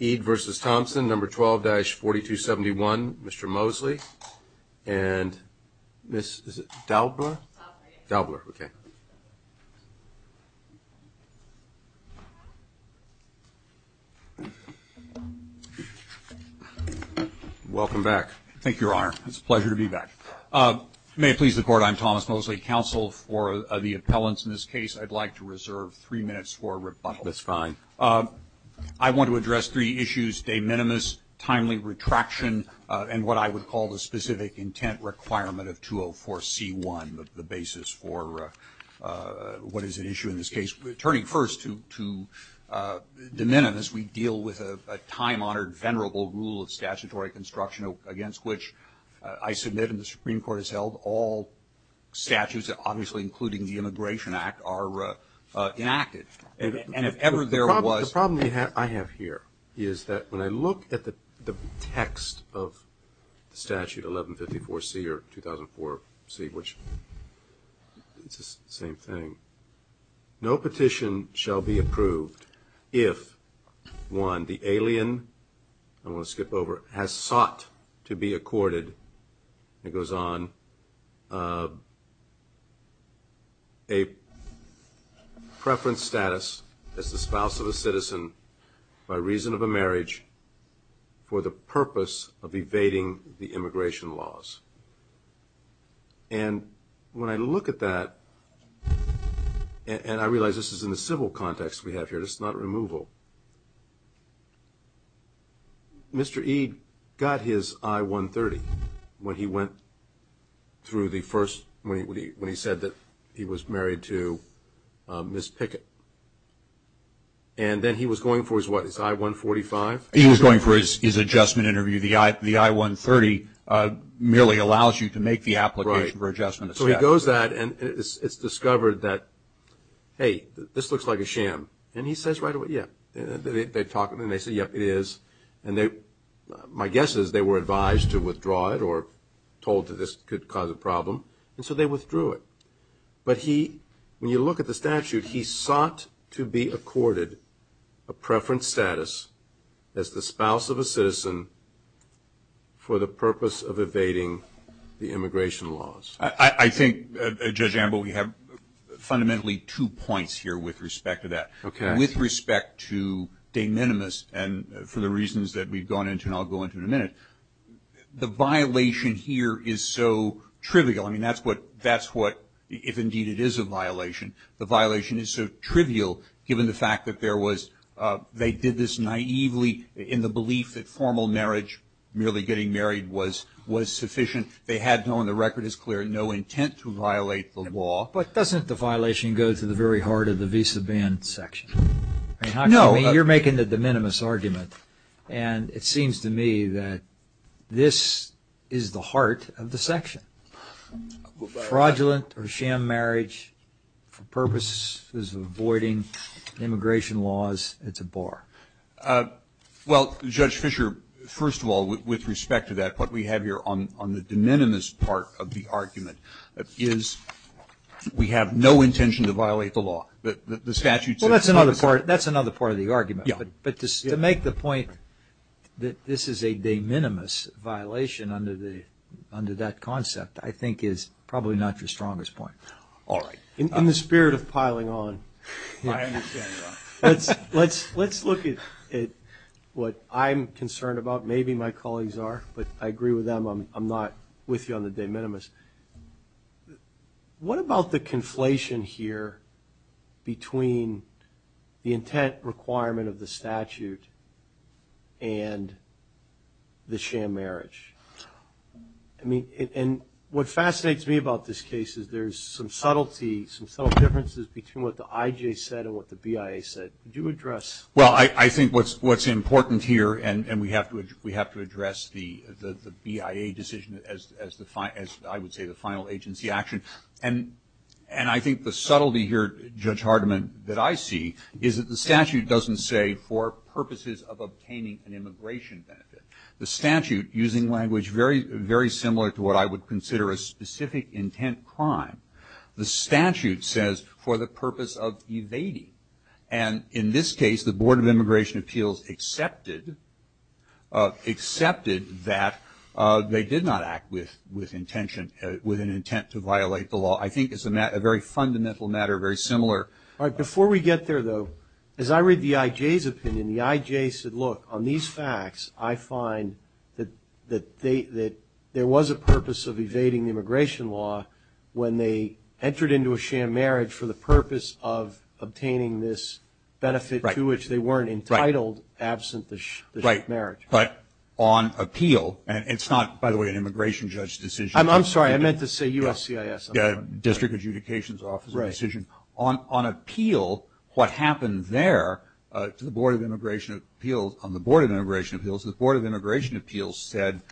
Eid v. Thompson, number 12-4271, Mr. Mosley, and Ms. Dalbler? Dalbler, okay. Welcome back. Thank you, Your Honor. It's a pleasure to be back. May it please the Court, I'm Thomas Mosley, counsel for the appellants in this case. I'd like to reserve three minutes for rebuttal. That's fine. I want to address three issues, de minimis, timely retraction, and what I would call the specific intent requirement of 204C1, the basis for what is at issue in this case. Turning first to de minimis, we deal with a time-honored, venerable rule of statutory construction against which I submit and the Supreme Court has held all statutes, obviously including the Immigration Act, are enacted. And if ever there was... The problem I have here is that when I look at the text of the statute, 1154C or 2004C, which it's the same thing, no petition shall be approved if, one, the alien, I'm going to skip over, has sought to be accorded, and it goes on, a preference status as the spouse of a citizen by reason of a marriage for the purpose of evading the immigration laws. And when I look at that, and I realize this is in the civil context we have here, this is not removal, Mr. Ede got his I-130 when he went through the first, when he said that he was married to Ms. Pickett. And then he was going for his what, his I-145? He was going for his adjustment interview. The I-130 merely allows you to make the application for adjustment. So he goes that, and it's discovered that, hey, this looks like a sham. And he says right away, yeah. They talk, and they say, yeah, it is. And my guess is they were advised to withdraw it or told that this could cause a problem, and so they withdrew it. But he, when you look at the statute, he sought to be accorded a preference status as the spouse of a citizen for the purpose of evading the immigration laws. I think, Judge Ambel, we have fundamentally two points here with respect to that. Okay. With respect to de minimis, and for the reasons that we've gone into and I'll go into in a minute, the violation here is so trivial. I mean, that's what, that's what, if indeed it is a violation, the violation is so trivial given the fact that there was, they did this naively in the belief that formal marriage, merely getting married, was, was sufficient. They had no, and the record is clear, no intent to violate the law. But doesn't the violation go to the very heart of the visa ban section? No. You're making the de minimis argument, and it seems to me that this is the heart of the section. Fraudulent or sham marriage for purposes of avoiding immigration laws, it's a bar. Well, Judge Fischer, first of all, with respect to that, what we have here on, on the de minimis part of the argument is we have no intention to violate the law. That's another part of the argument. But to make the point that this is a de minimis violation under the, under that concept, I think is probably not your strongest point. All right. In the spirit of piling on, let's, let's, let's look at, at what I'm concerned about. Maybe my colleagues are, but I agree with them. I'm not with you on the de minimis. But what about the conflation here between the intent requirement of the statute and the sham marriage? I mean, and what fascinates me about this case is there's some subtlety, some subtle differences between what the IJ said and what the BIA said. Would you address? Well, I, I think what's, what's important here, and, and we have to, address the, the, the BIA decision as, as the, as I would say, the final agency action. And, and I think the subtlety here, Judge Hardiman, that I see is that the statute doesn't say for purposes of obtaining an immigration benefit. The statute, using language very, very similar to what I would consider a specific intent crime. The statute says for the purpose of evading. And in this case, the Board of Immigration Appeals accepted, accepted that they did not act with, with intention, with an intent to violate the law. I think it's a matter, a very fundamental matter, very similar. All right, before we get there, though, as I read the IJ's opinion, the IJ said, look, on these facts, I find that, that they, that there was a purpose of evading the immigration law when they entered into a sham marriage for the purpose of obtaining this benefit to which they weren't entitled absent the, the marriage. But on appeal, and it's not, by the way, an immigration judge decision. I'm, I'm sorry, I meant to say USCIS. Yeah, District Adjudication's Office decision. On, on appeal, what happened there to the Board of Immigration Appeals, on the Board of Immigration Appeals, the Board of Immigration Appeals said,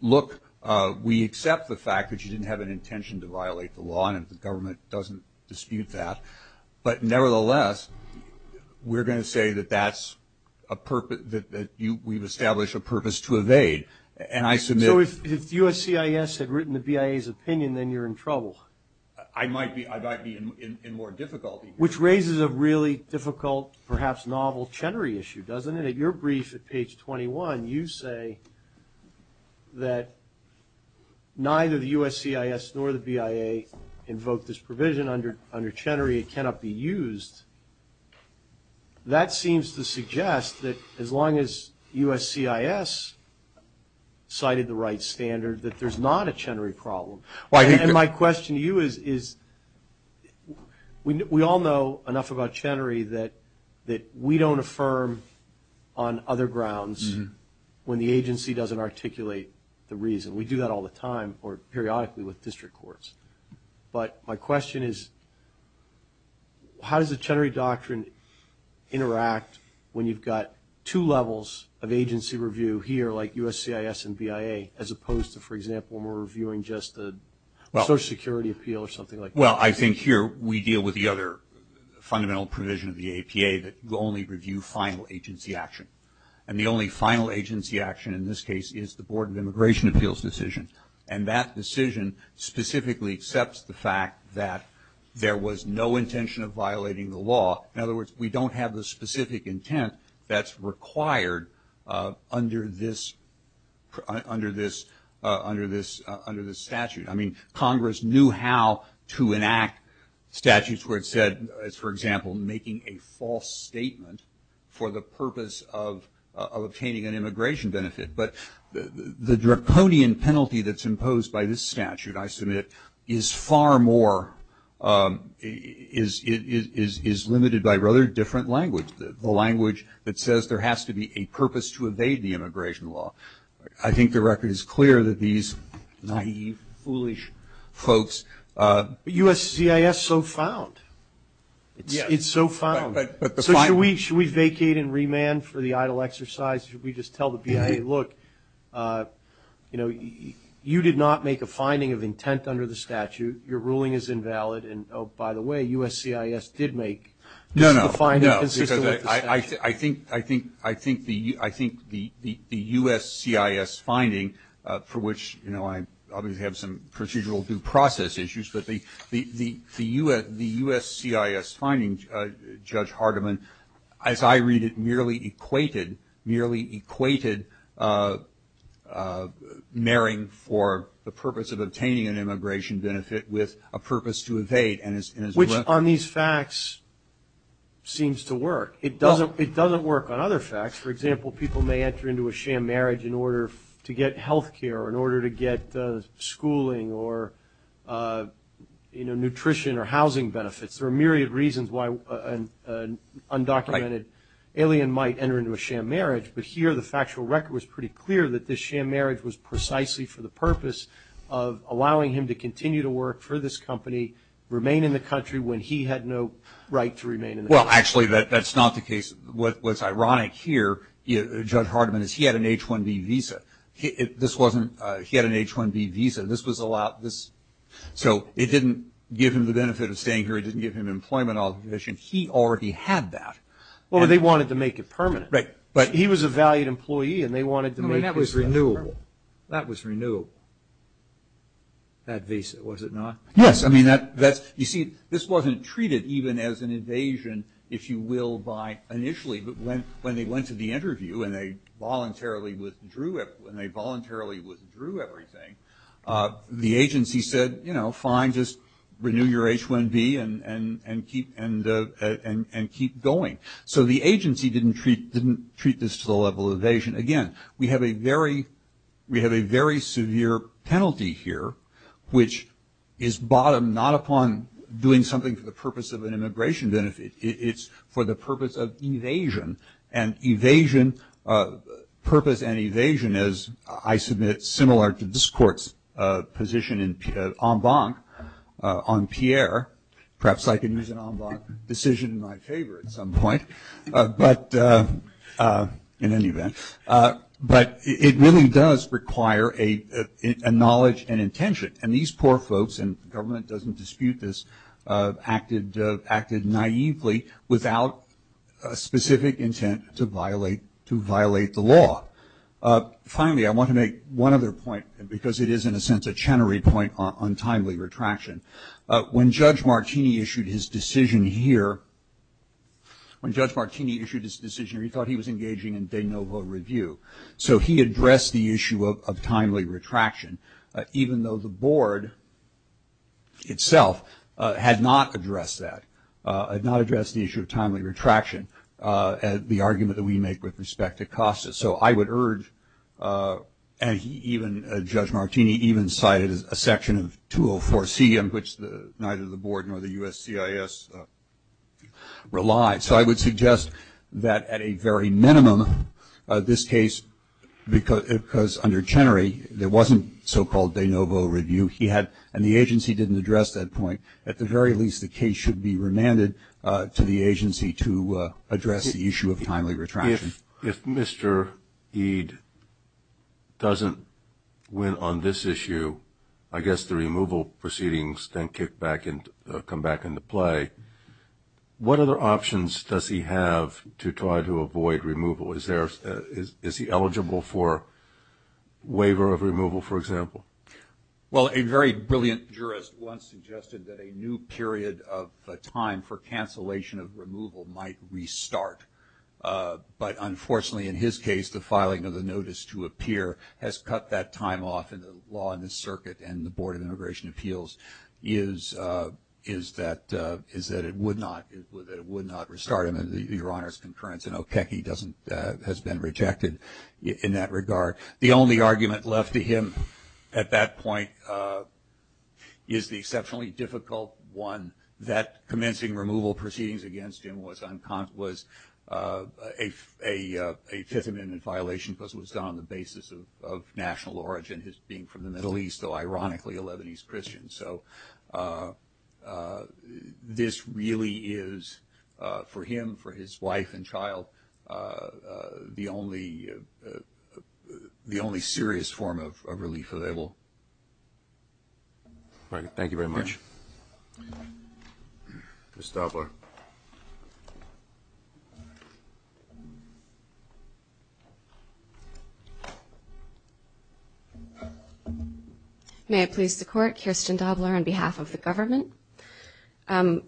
look, we accept the fact that you didn't have an intention to violate the law, and the government doesn't dispute that, but nevertheless, we're going to say that that's a purpose, that, that you, we've established a purpose to evade, and I submit. So if, if USCIS had written the BIA's opinion, then you're in trouble. I might be, I might be in, in, in more difficulty. Which raises a really difficult, perhaps novel, Chenery issue, doesn't it? At your brief at page 21, you say that neither the USCIS nor the BIA invoked this provision under, under Chenery, it cannot be used. That seems to suggest that as long as USCIS cited the right standard, that there's not a Chenery problem. And my question to you is, is, we all know enough about Chenery that, that we don't affirm on other grounds when the agency doesn't articulate the reason. We do that all the time, or periodically with district courts. But my question is, how does the Chenery Doctrine interact when you've got two levels of agency review here, like USCIS and BIA, as opposed to, for example, when we're reviewing just the Social Security Appeal or something like that? Well, I think here we deal with the other fundamental provision of the APA, that you only review final agency action. And the only final agency action in this case is the Board of Immigration Appeals decision. And that decision specifically accepts the fact that there was no intention of violating the law. In other words, we don't have the specific intent that's required under this, under this, under this, under this statute. I mean, Congress knew how to enact statutes where it said, as for example, making a false statement for the purpose of, of obtaining an immigration benefit. But the, the, the draconian penalty that's imposed by this statute, I submit, is far more, is, is, is, is limited by rather different language. The language that says there has to be a purpose to evade the immigration law. I think the record is clear that these naïve, foolish folks... But USCIS so found. It's, it's so found. But, but the... So should we, should we vacate and remand for the idle exercise? Should we just tell the BIA, look, you know, you did not make a finding of intent under the statute. Your ruling is invalid. And, oh, by the way, USCIS did make... No, no, no, because I, I, I think, I think, I think the, I think the, the, the USCIS finding for which, you know, I obviously have some procedural due process issues, but the, the, the, the US, the USCIS finding, Judge Hardiman, as I read it, merely equated, merely equated marrying for the purpose of obtaining an immigration benefit with a purpose to evade and is, is... Which on these facts seems to work. It doesn't, it doesn't work on other facts. For example, people may enter into a sham marriage in order to get health care, or in order to get schooling, or, you know, nutrition or housing benefits. There are myriad reasons why an undocumented alien might enter into a sham marriage, but here the factual record was pretty clear that this sham marriage was precisely for the purpose of allowing him to continue to work for this company, remain in the country when he had no right to remain in the country. That's not the case. What's ironic here, Judge Hardiman, is he had an H-1B visa. This wasn't, he had an H-1B visa. This was allowed, this, so it didn't give him the benefit of staying here. It didn't give him employment authorization. He already had that. Well, they wanted to make it permanent. Right, but... He was a valued employee and they wanted to make his... I mean, that was renewable. That was renewable. That visa, was it not? Yes, I mean, that's, you see, this wasn't treated even as an evasion, if you will, by initially, but when they went to the interview and they voluntarily withdrew everything, the agency said, you know, fine, just renew your H-1B and keep going. So the agency didn't treat this to the bottom, not upon doing something for the purpose of an immigration benefit. It's for the purpose of evasion and evasion, purpose and evasion is, I submit, similar to this court's position in en banc on Pierre. Perhaps I can use an en banc decision in my favor at some point, but in any doesn't dispute this, acted naively without a specific intent to violate the law. Finally, I want to make one other point, because it is, in a sense, a Chenery point on timely retraction. When Judge Martini issued his decision here, when Judge Martini issued his decision here, he thought he was engaging in de novo review. So he addressed the issue of timely retraction, even though the board itself had not addressed that, had not addressed the issue of timely retraction, the argument that we make with respect to costus. So I would urge, and even Judge Martini even cited a section of 204C in which neither the board nor the USCIS relied. So I would suggest that at a very minimum, this case, because under Chenery, there wasn't so-called de novo review, he had, and the agency didn't address that point. At the very least, the case should be remanded to the agency to address the issue of timely retraction. If Mr. Eade doesn't win on this issue, I guess the removal proceedings then kick back and other options does he have to try to avoid removal? Is he eligible for waiver of removal, for example? Well, a very brilliant jurist once suggested that a new period of time for cancellation of removal might restart. But unfortunately, in his case, the filing of the notice to appear has cut that time off in the law and the circuit and the Board of Immigration would not restart him under the Your Honor's concurrence, and Okecki has been rejected in that regard. The only argument left to him at that point is the exceptionally difficult one, that commencing removal proceedings against him was a fifth amendment violation because it was done on the basis of national origin, his being from the Middle East, though ironically a Lebanese Christian. So this really is, for him, for his wife and child, the only serious form of relief. Thank you very much. Ms. Dobler. May it please the Court, Kirsten Dobler on behalf of the government.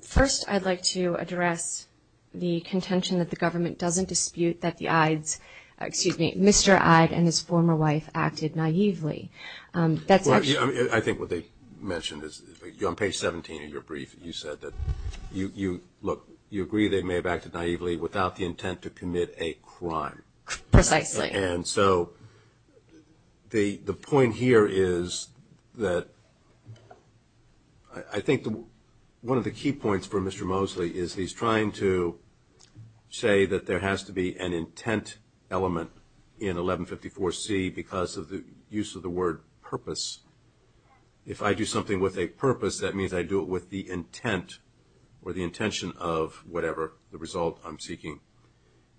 First, I'd like to address the contention that the government doesn't dispute that the Eades, excuse me, Mr. Eade and his former wife acted naively. That's actually... I think what they mentioned is on page 17 of your brief, you said that you look, you agree they may have acted naively without the intent to commit a crime. Precisely. And so the point here is that I think one of the key points for Mr. Mosley is he's trying to say that there has to be an intent element in 1154C because of the use of the word purpose. If I do something with a purpose, that means I do it with the intent or the intention of whatever the result I'm seeking.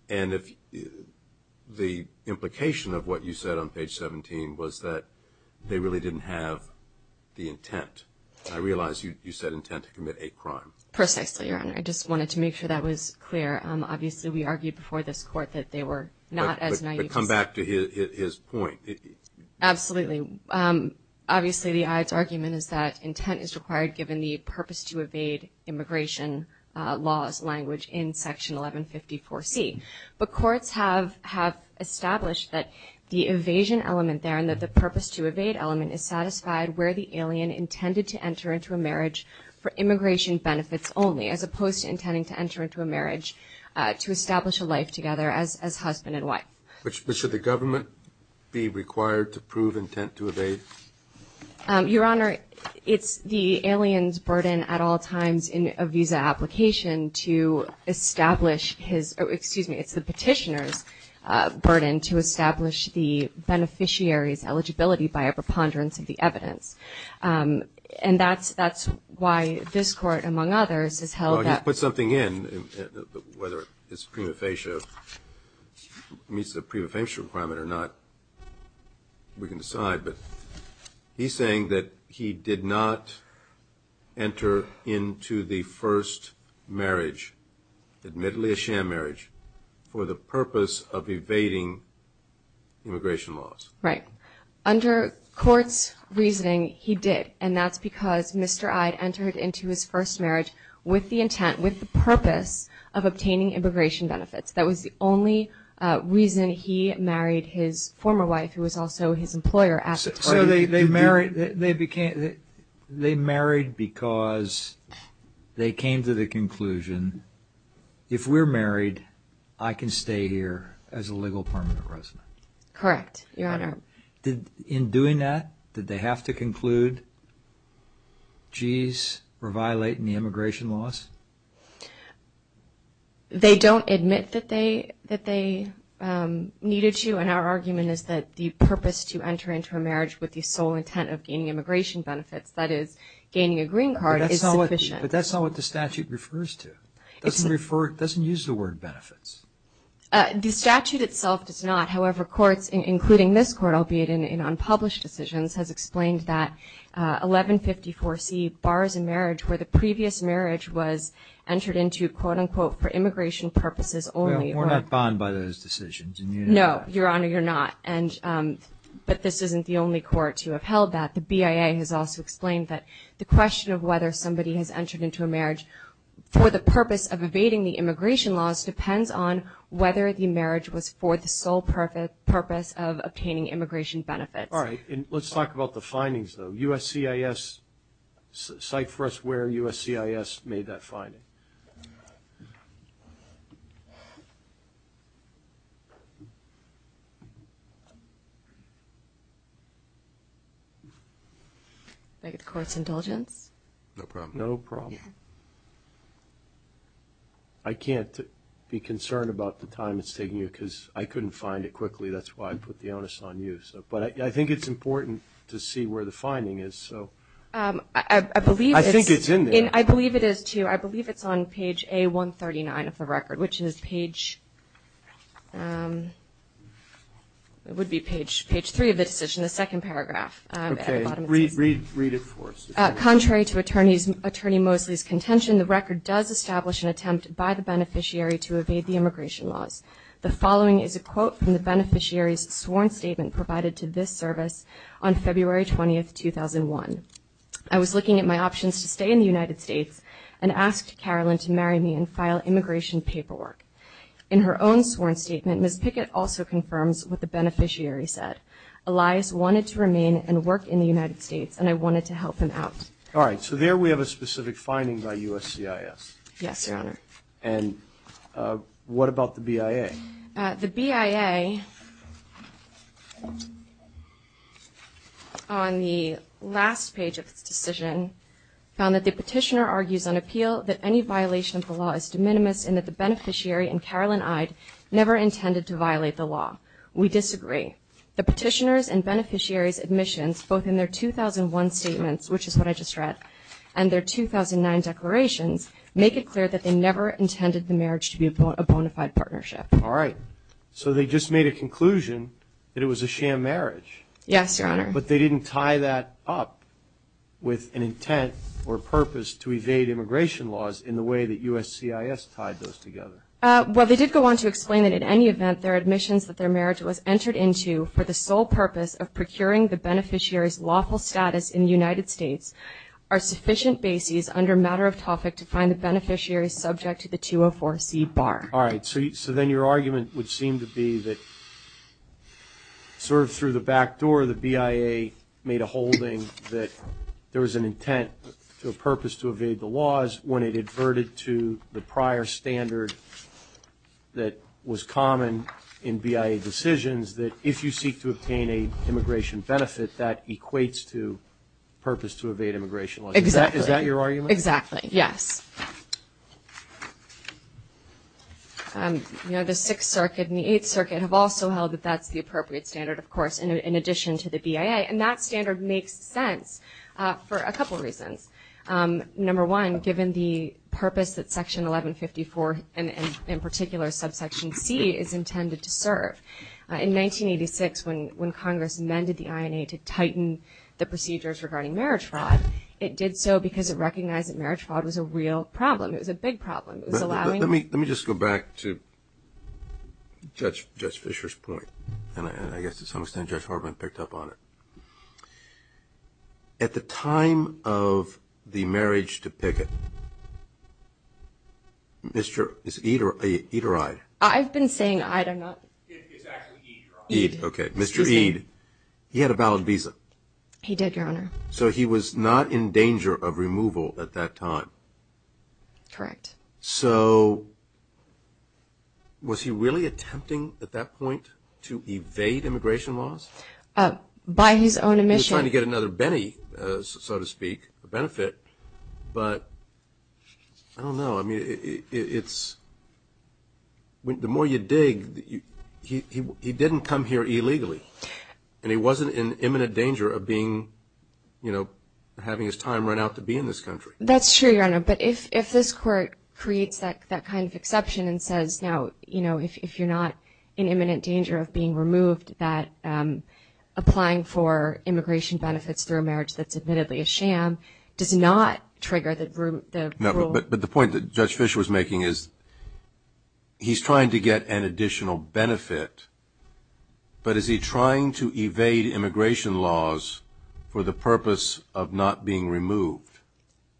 And if the implication of what you said on page 17 was that they really didn't have the intent, I realize you said intent to commit a crime. Precisely, Your Honor. I just wanted to make sure that was clear. Obviously, we argued before this Court that they were not as naive as... But come back to his point. Absolutely. Obviously, the Eades argument is that intent is required given the purpose to evade immigration laws language in section 1154C. But courts have established that the evasion element there and that the purpose to evade element is satisfied where the alien intended to enter into a marriage for immigration benefits only as opposed to intending to enter into a marriage to establish a life together as husband and wife. But should the government be required to prove intent to evade? Your Honor, it's the alien's burden at all times in a visa application to establish his... Excuse me. It's the petitioner's burden to establish the beneficiary's eligibility by preponderance of the evidence. And that's why this Court, among others, has held that... You put something in, whether it's prima facie, meets the prima facie requirement or not, we can decide. But he's saying that he did not enter into the first marriage, admittedly a sham marriage, for the purpose of evading immigration laws. Right. Under court's reasoning, he did. And that's because Mr. Eyde entered into his first marriage with the intent, with the purpose, of obtaining immigration benefits. That was the only reason he married his former wife, who was also his employer at the time. So they married because they came to the conclusion, if we're married, I can stay here as a legal permanent resident. Correct, Your Honor. In doing that, did they have to conclude, geez, we're violating the immigration laws? They don't admit that they needed to, and our argument is that the purpose to enter into a marriage with the sole intent of gaining immigration benefits, that is, gaining a green card, is sufficient. But that's not what the statute refers to. It doesn't use the word benefits. The statute itself does not. However, courts, including this court, albeit in unpublished decisions, has explained that 1154C, Bars in Marriage, where the previous marriage was entered into, quote-unquote, for immigration purposes only. We're not bound by those decisions. No, Your Honor, you're not. But this isn't the only court to have held that. The BIA has also explained that the question of whether somebody has entered into a marriage for the purpose of whether the marriage was for the sole purpose of obtaining immigration benefits. All right. And let's talk about the findings, though. USCIS, cite for us where USCIS made that finding. I beg the Court's indulgence. No problem. No problem. I can't be concerned about the time it's taking you because I couldn't find it quickly. That's why I put the onus on you. But I think it's important to see where the finding is. So I think it's in there. I believe it is, too. I believe it's on page A139 of the record, which is page it would be page three of the decision, the second paragraph. Read it for us. Contrary to Attorney Mosley's contention, the record does establish an attempt by the beneficiary to evade the immigration laws. The following is a quote from the beneficiary's sworn statement provided to this service on February 20, 2001. I was looking at my options to stay in the United States and asked Carolyn to marry me and file immigration paperwork. In her own sworn statement, Ms. Pickett also confirms what the beneficiary said. Elias wanted to remain and work in the All right. So there we have a specific finding by USCIS. Yes, Your Honor. And what about the BIA? The BIA on the last page of this decision found that the petitioner argues on appeal that any violation of the law is de minimis and that the beneficiary and Carolyn Eyde never intended to violate the law. We disagree. The petitioner's and beneficiary's admissions, both in their 2001 statements, which is what I just read, and their 2009 declarations, make it clear that they never intended the marriage to be a bona fide partnership. All right. So they just made a conclusion that it was a sham marriage. Yes, Your Honor. But they didn't tie that up with an intent or purpose to evade immigration laws in the way that USCIS tied those together. Well, they did go on to explain that in any event, their admissions that their marriage was entered into for the sole purpose of procuring the beneficiary's lawful status in the United States are sufficient bases under matter of topic to find the beneficiary subject to the 204C bar. All right. So then your argument would seem to be that sort of through the back door, the BIA made a holding that there was an intent to a purpose to evade the laws when it adverted to the prior standard that was common in BIA decisions that if you seek to obtain a immigration benefit, that equates to purpose to evade immigration laws. Exactly. Is that your argument? Exactly. Yes. You know, the Sixth Circuit and the Eighth Circuit have also held that that's the appropriate standard, of course, in addition to the BIA. And that standard makes sense for a couple of reasons. Number one, given the purpose that Section 1154, and in particular Subsection C, is intended to serve. In 1986, when Congress amended the INA to tighten the procedures regarding marriage fraud, it did so because it recognized that marriage fraud was a real problem. It was a big problem. It was allowing... Let me just go back to Judge Fischer's point. And I guess to some extent, Judge Hartman picked up on it. At the time of the marriage to picket, Mr. Ederide... I've been saying I don't know. It's actually Ederide. Mr. Ederide, he had a valid visa. He did, Your Honor. So he was not in danger of removal at that time. Correct. So was he really attempting at that point to evade immigration laws? By his own omission. He was trying to get another penny, so to speak, a benefit. But I don't know. I mean, it's... The more you dig, he didn't come here illegally. And he wasn't in imminent danger of being, you know, having his time run out to be in this country. That's true, Your Honor. But if this Court creates that kind of exception and says, now, you know, if you're not in imminent danger of being removed, that applying for immigration benefits through a marriage that's admittedly a sham does not trigger the rule... But the point that Judge Fischer was making is he's trying to get an additional benefit. But is he trying to evade immigration laws for the purpose of not being removed?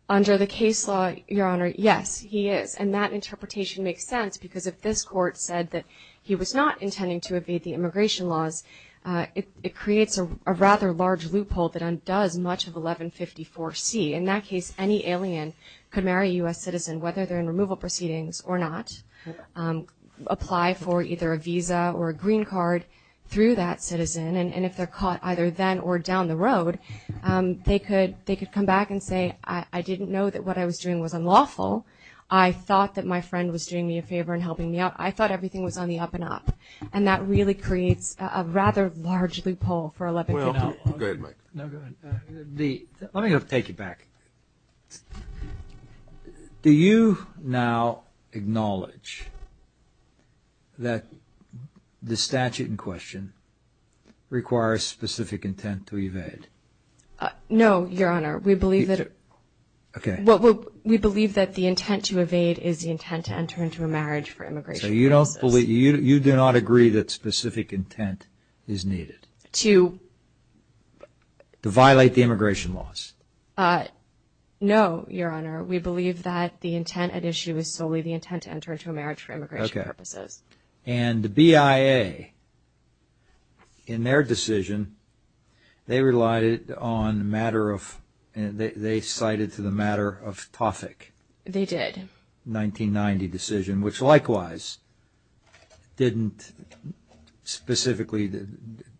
Under the case law, Your Honor, yes, he is. And that interpretation makes sense because if this Court said that he was not intending to evade the immigration laws, it creates a rather large loophole that undoes much of 1154C. In that case, any alien could marry a U.S. citizen, whether they're in removal proceedings or not, apply for either a visa or a green card through that citizen. And if they're caught either then or down the road, they could come back and say, I didn't know that what I was doing was unlawful. I thought that my friend was doing me a favor and helping me out. I thought everything was on the up and up. And that really creates a rather large loophole for 1154. Will, go ahead, Mike. No, go ahead. Let me take it back. Do you now acknowledge that the statute in question requires specific intent to evade? No, Your Honor. We believe that... Okay. Well, we believe that the intent to evade is the intent to enter into a marriage for immigration purposes. You do not agree that specific intent is needed? To... To violate the immigration laws? No, Your Honor. We believe that the intent at issue is solely the intent to enter into a marriage for immigration purposes. And the BIA, in their decision, they relied on the matter of... They cited to the matter of TOFIC. They did. 1990 decision, which likewise didn't specifically...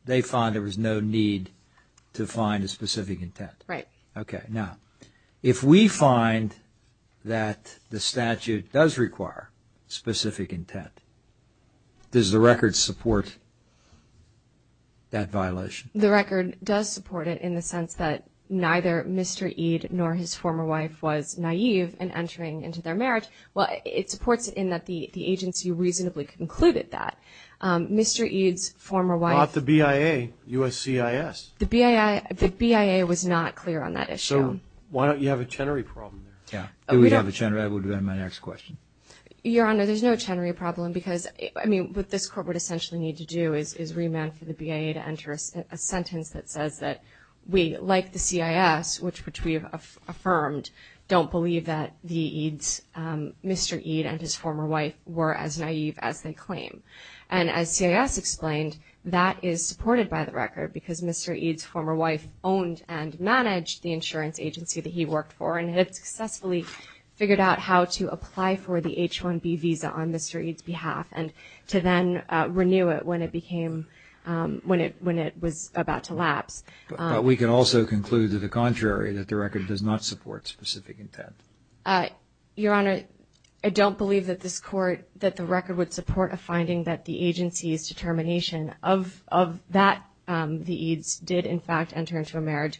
They found there was no need to find a specific intent. Right. Okay. Now, if we find that the statute does require specific intent, does the record support that violation? The record does support it in the sense that neither Mr. Eade nor his former wife was It supports it in that the agency reasonably concluded that. Mr. Eade's former wife... Not the BIA, USCIS. The BIA was not clear on that issue. So why don't you have a Chenery problem there? Yeah. Do we have a Chenery? That would be my next question. Your Honor, there's no Chenery problem because, I mean, what this court would essentially need to do is remand for the BIA to enter a sentence that says that we, like the CIS, which we have affirmed, don't believe that Mr. Eade and his former wife were as naive as they claim. And as CIS explained, that is supported by the record because Mr. Eade's former wife owned and managed the insurance agency that he worked for and had successfully figured out how to apply for the H-1B visa on Mr. Eade's behalf and to then renew it when it became... When it was about to lapse. But we can also conclude to the contrary, that the record does not support specific intent. Your Honor, I don't believe that this court, that the record would support a finding that the agency's determination of that the Eades did, in fact, enter into a marriage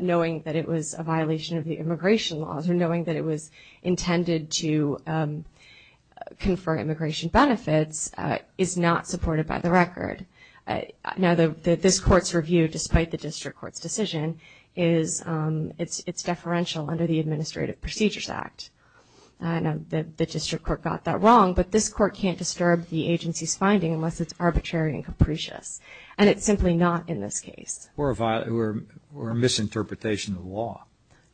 knowing that it was a violation of the immigration laws or knowing that it was intended to confer immigration benefits is not supported by the record. Now, this court's review, despite the district court's decision, is it's deferential under the Administrative Procedures Act. I know that the district court got that wrong, but this court can't disturb the agency's finding unless it's arbitrary and capricious. And it's simply not in this case. Or a misinterpretation of the law.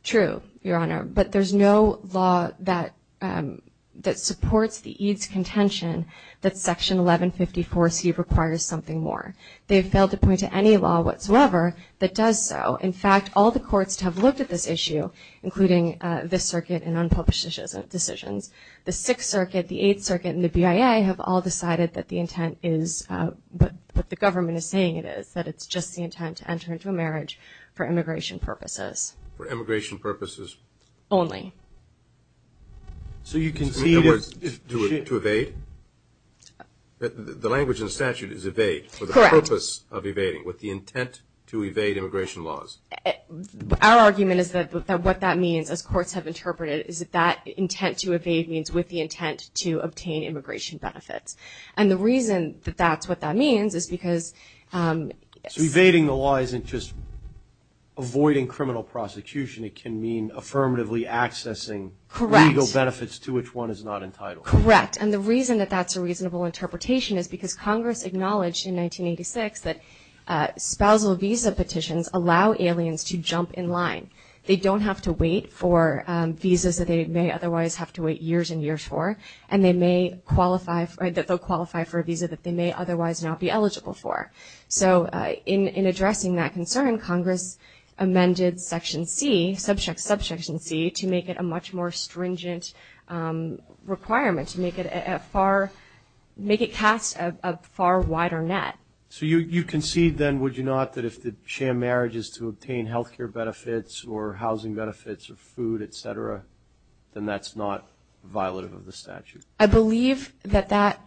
True, Your Honor. But there's no law that supports the Eades' contention that Section 1154C requires something more. They've failed to point to any law whatsoever that does so. In fact, all the courts have looked at this issue, including this circuit and unpublished decisions. The Sixth Circuit, the Eighth Circuit, and the BIA have all decided that the intent is what the government is saying it is, that it's just the intent to enter into a marriage for immigration purposes. For immigration purposes? Only. So you concede... In other words, to evade? The language in the statute is evade. Correct. For the purpose of evading. With the intent to evade immigration laws. Our argument is that what that means, as courts have interpreted it, is that intent to evade means with the intent to obtain immigration benefits. And the reason that that's what that means is because... So evading the law isn't just avoiding criminal prosecution. It can mean affirmatively accessing legal benefits to which one is not entitled. Correct. And the reason that that's a reasonable interpretation is because Congress acknowledged in 1986 that spousal visa petitions allow aliens to jump in line. They don't have to wait for visas that they may otherwise have to wait years and years for, and they may qualify for a visa that they may otherwise not be eligible for. So in addressing that concern, Congress amended Section C, Subsection C, to make it a much stringent requirement, to make it cast a far wider net. So you concede then, would you not, that if the sham marriage is to obtain health care benefits or housing benefits or food, etc., then that's not violative of the statute? I believe that that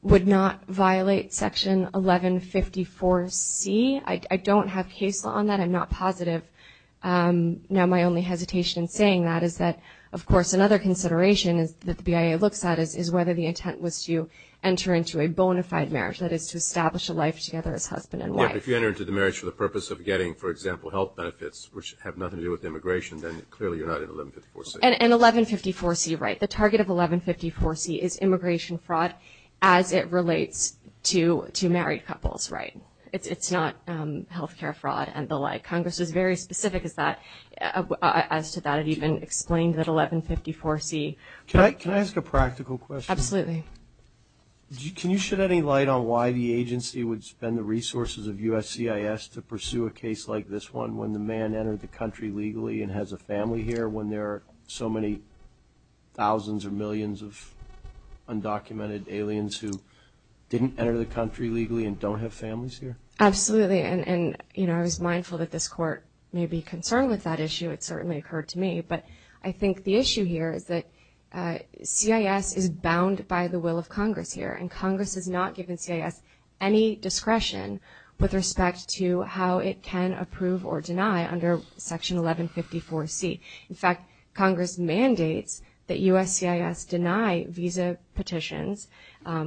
would not violate Section 1154C. I don't have case law on that. I'm not positive. Now, my only hesitation in saying that is that, of course, another consideration that the BIA looks at is whether the intent was to enter into a bona fide marriage, that is to establish a life together as husband and wife. If you enter into the marriage for the purpose of getting, for example, health benefits, which have nothing to do with immigration, then clearly you're not in 1154C. And 1154C, right. The target of 1154C is immigration fraud as it relates to married couples, right. It's not health care fraud and the like. Congress is very specific as to that. It even explained that 1154C. Can I ask a practical question? Absolutely. Can you shed any light on why the agency would spend the resources of USCIS to pursue a case like this one when the man entered the country legally and has a family here when there are so many thousands or millions of undocumented aliens who didn't enter the country legally and don't have families here? Absolutely. And I was mindful that this court may be concerned with that issue. It certainly occurred to me. But I think the issue here is that CIS is bound by the will of Congress here. And Congress has not given CIS any discretion with respect to how it can approve or deny under Section 1154C. In fact, Congress mandates that USCIS deny visa petitions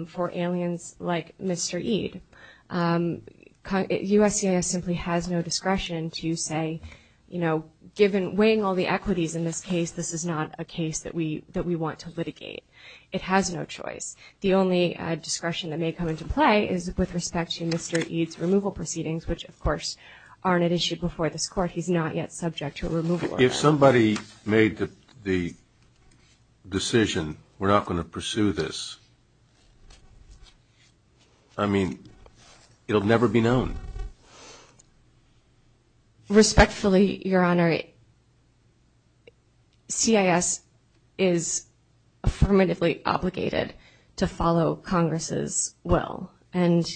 for aliens like Mr. Ede. USCIS simply has no discretion to say, you know, given weighing all the equities in this case, this is not a case that we want to litigate. It has no choice. The only discretion that may come into play is with respect to Mr. Ede's removal proceedings, which, of course, aren't issued before this court. He's not yet subject to a removal order. If somebody made the decision, we're not going to pursue this. I mean, it'll never be known. Respectfully, Your Honor, CIS is affirmatively obligated to follow Congress's will. And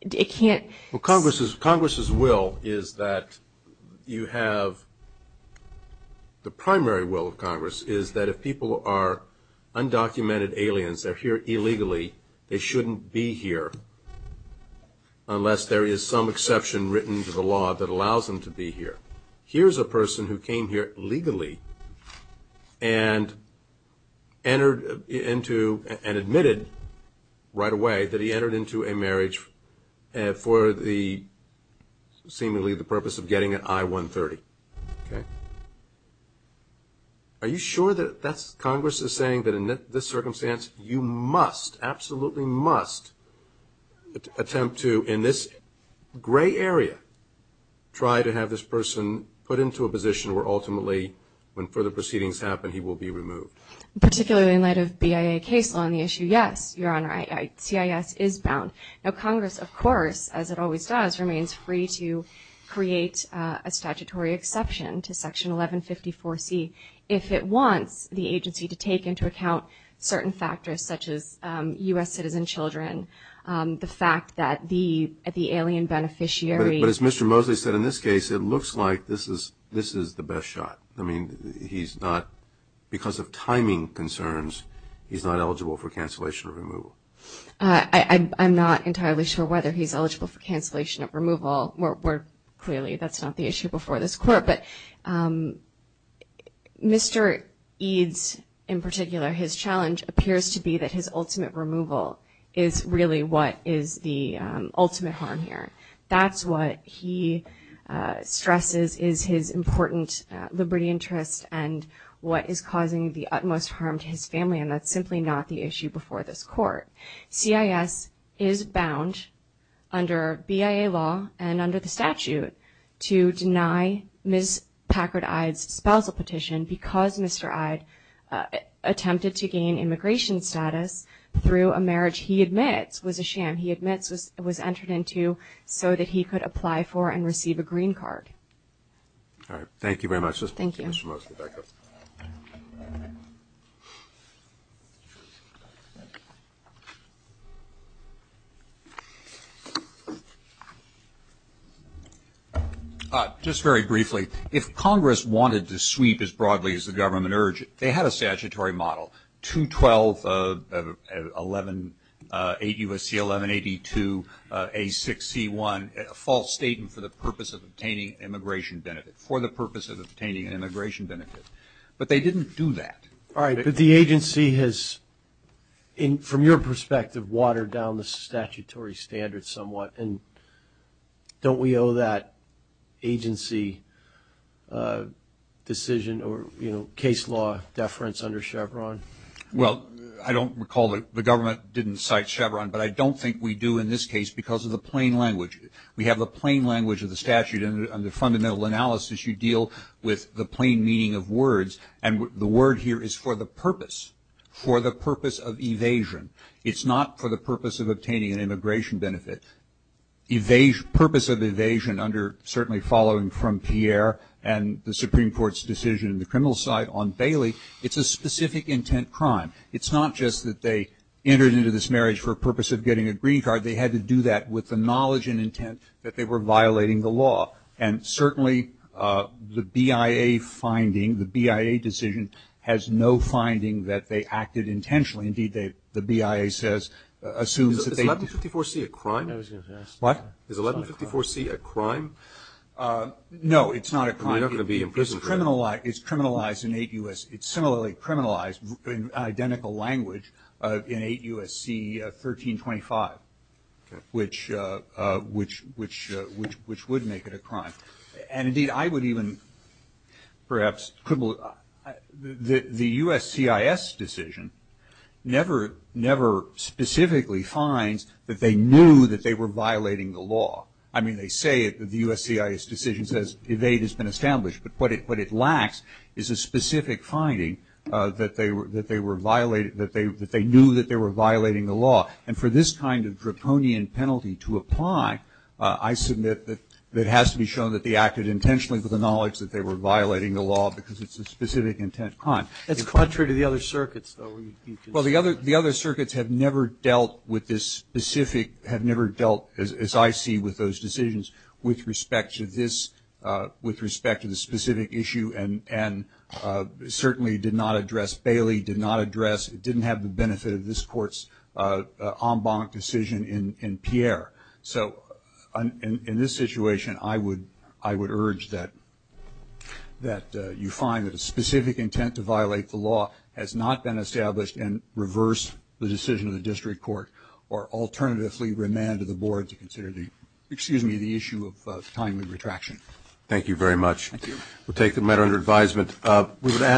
it can't... Well, Congress's will is that you have... The primary will of Congress is that if people are undocumented aliens, they're here illegally, they shouldn't be here unless there is some exception written to the law that allows them to be here. Here's a person who came here legally and admitted right away that he entered into a Are you sure that that's... Congress is saying that in this circumstance, you must, absolutely must attempt to, in this gray area, try to have this person put into a position where ultimately, when further proceedings happen, he will be removed? Particularly in light of BIA case law on the issue, yes, Your Honor, CIS is bound. Now, Congress, of course, as it always does, remains free to create a statutory exception to Section 1154C if it wants the agency to take into account certain factors such as U.S. citizen children, the fact that the alien beneficiary... But as Mr. Mosley said, in this case, it looks like this is the best shot. I mean, he's not... Because of timing concerns, he's not eligible for cancellation or removal. I'm not entirely sure whether he's eligible for cancellation or removal. Clearly, that's not the issue before this court. But Mr. Eades, in particular, his challenge appears to be that his ultimate removal is really what is the ultimate harm here. That's what he stresses is his important liberty interest and what is causing the utmost harm to his family. And that's simply not the issue before this court. CIS is bound under BIA law and under the statute to deny Ms. Packard Eades' spousal petition because Mr. Eades attempted to gain immigration status through a marriage he admits was a sham, he admits was entered into so that he could apply for and receive a green card. All right. Thank you very much. Thank you. All right. Just very briefly, if Congress wanted to sweep as broadly as the government urged, they had a statutory model, 212, 8 U.S.C. 1182, A6C1, a false statement for the purpose of obtaining immigration benefit, for the purpose of obtaining an immigration benefit. But they didn't do that. All right. But the agency has, from your perspective, watered down the statutory standards somewhat. And don't we owe that agency decision or case law deference under Chevron? Well, I don't recall that the government didn't cite Chevron, but I don't think we do in this case because of the plain language. We have the plain language of the statute and the fundamental analysis. You deal with the plain meaning of words. And the word here is for the purpose, for the purpose of evasion. It's not for the purpose of obtaining an immigration benefit. Purpose of evasion under certainly following from Pierre and the Supreme Court's decision in the criminal side on Bailey, it's a specific intent crime. It's not just that they entered into this marriage for purpose of getting a green card. They had to do that with the knowledge and intent that they were violating the law. And certainly, the BIA finding, the BIA decision has no finding that they acted intentionally. Indeed, the BIA says, assumes that they- Is 1154C a crime? What? Is 1154C a crime? No, it's not a crime. You're not going to be in prison for that. It's criminalized in eight U.S. It's similarly criminalized in identical language in eight U.S.C. 1325, which would make it a crime. And indeed, I would even perhaps, the U.S.C.I.S. decision never specifically finds that they knew that they were violating the law. I mean, they say it, the U.S.C.I.S. decision says evade has been established. But what it lacks is a specific finding that they knew that they were violating the law. And for this kind of draconian penalty to apply, I submit that it has to be shown that they acted intentionally with the knowledge that they were violating the law because it's a specific intent crime. That's contrary to the other circuits, though. Well, the other circuits have never dealt with this specific, have never dealt, as I see, with those decisions with respect to this, with respect to the specific issue. And certainly did not address, Bailey did not address, it didn't have the benefit of this court's en banc decision in Pierre. So in this situation, I would urge that you find that a specific intent to violate the law has not been established and reverse the decision of the district court or alternatively remand to the board to consider the, excuse me, the issue of timely retraction. Thank you very much. Thank you. We'll take the matter under advisement.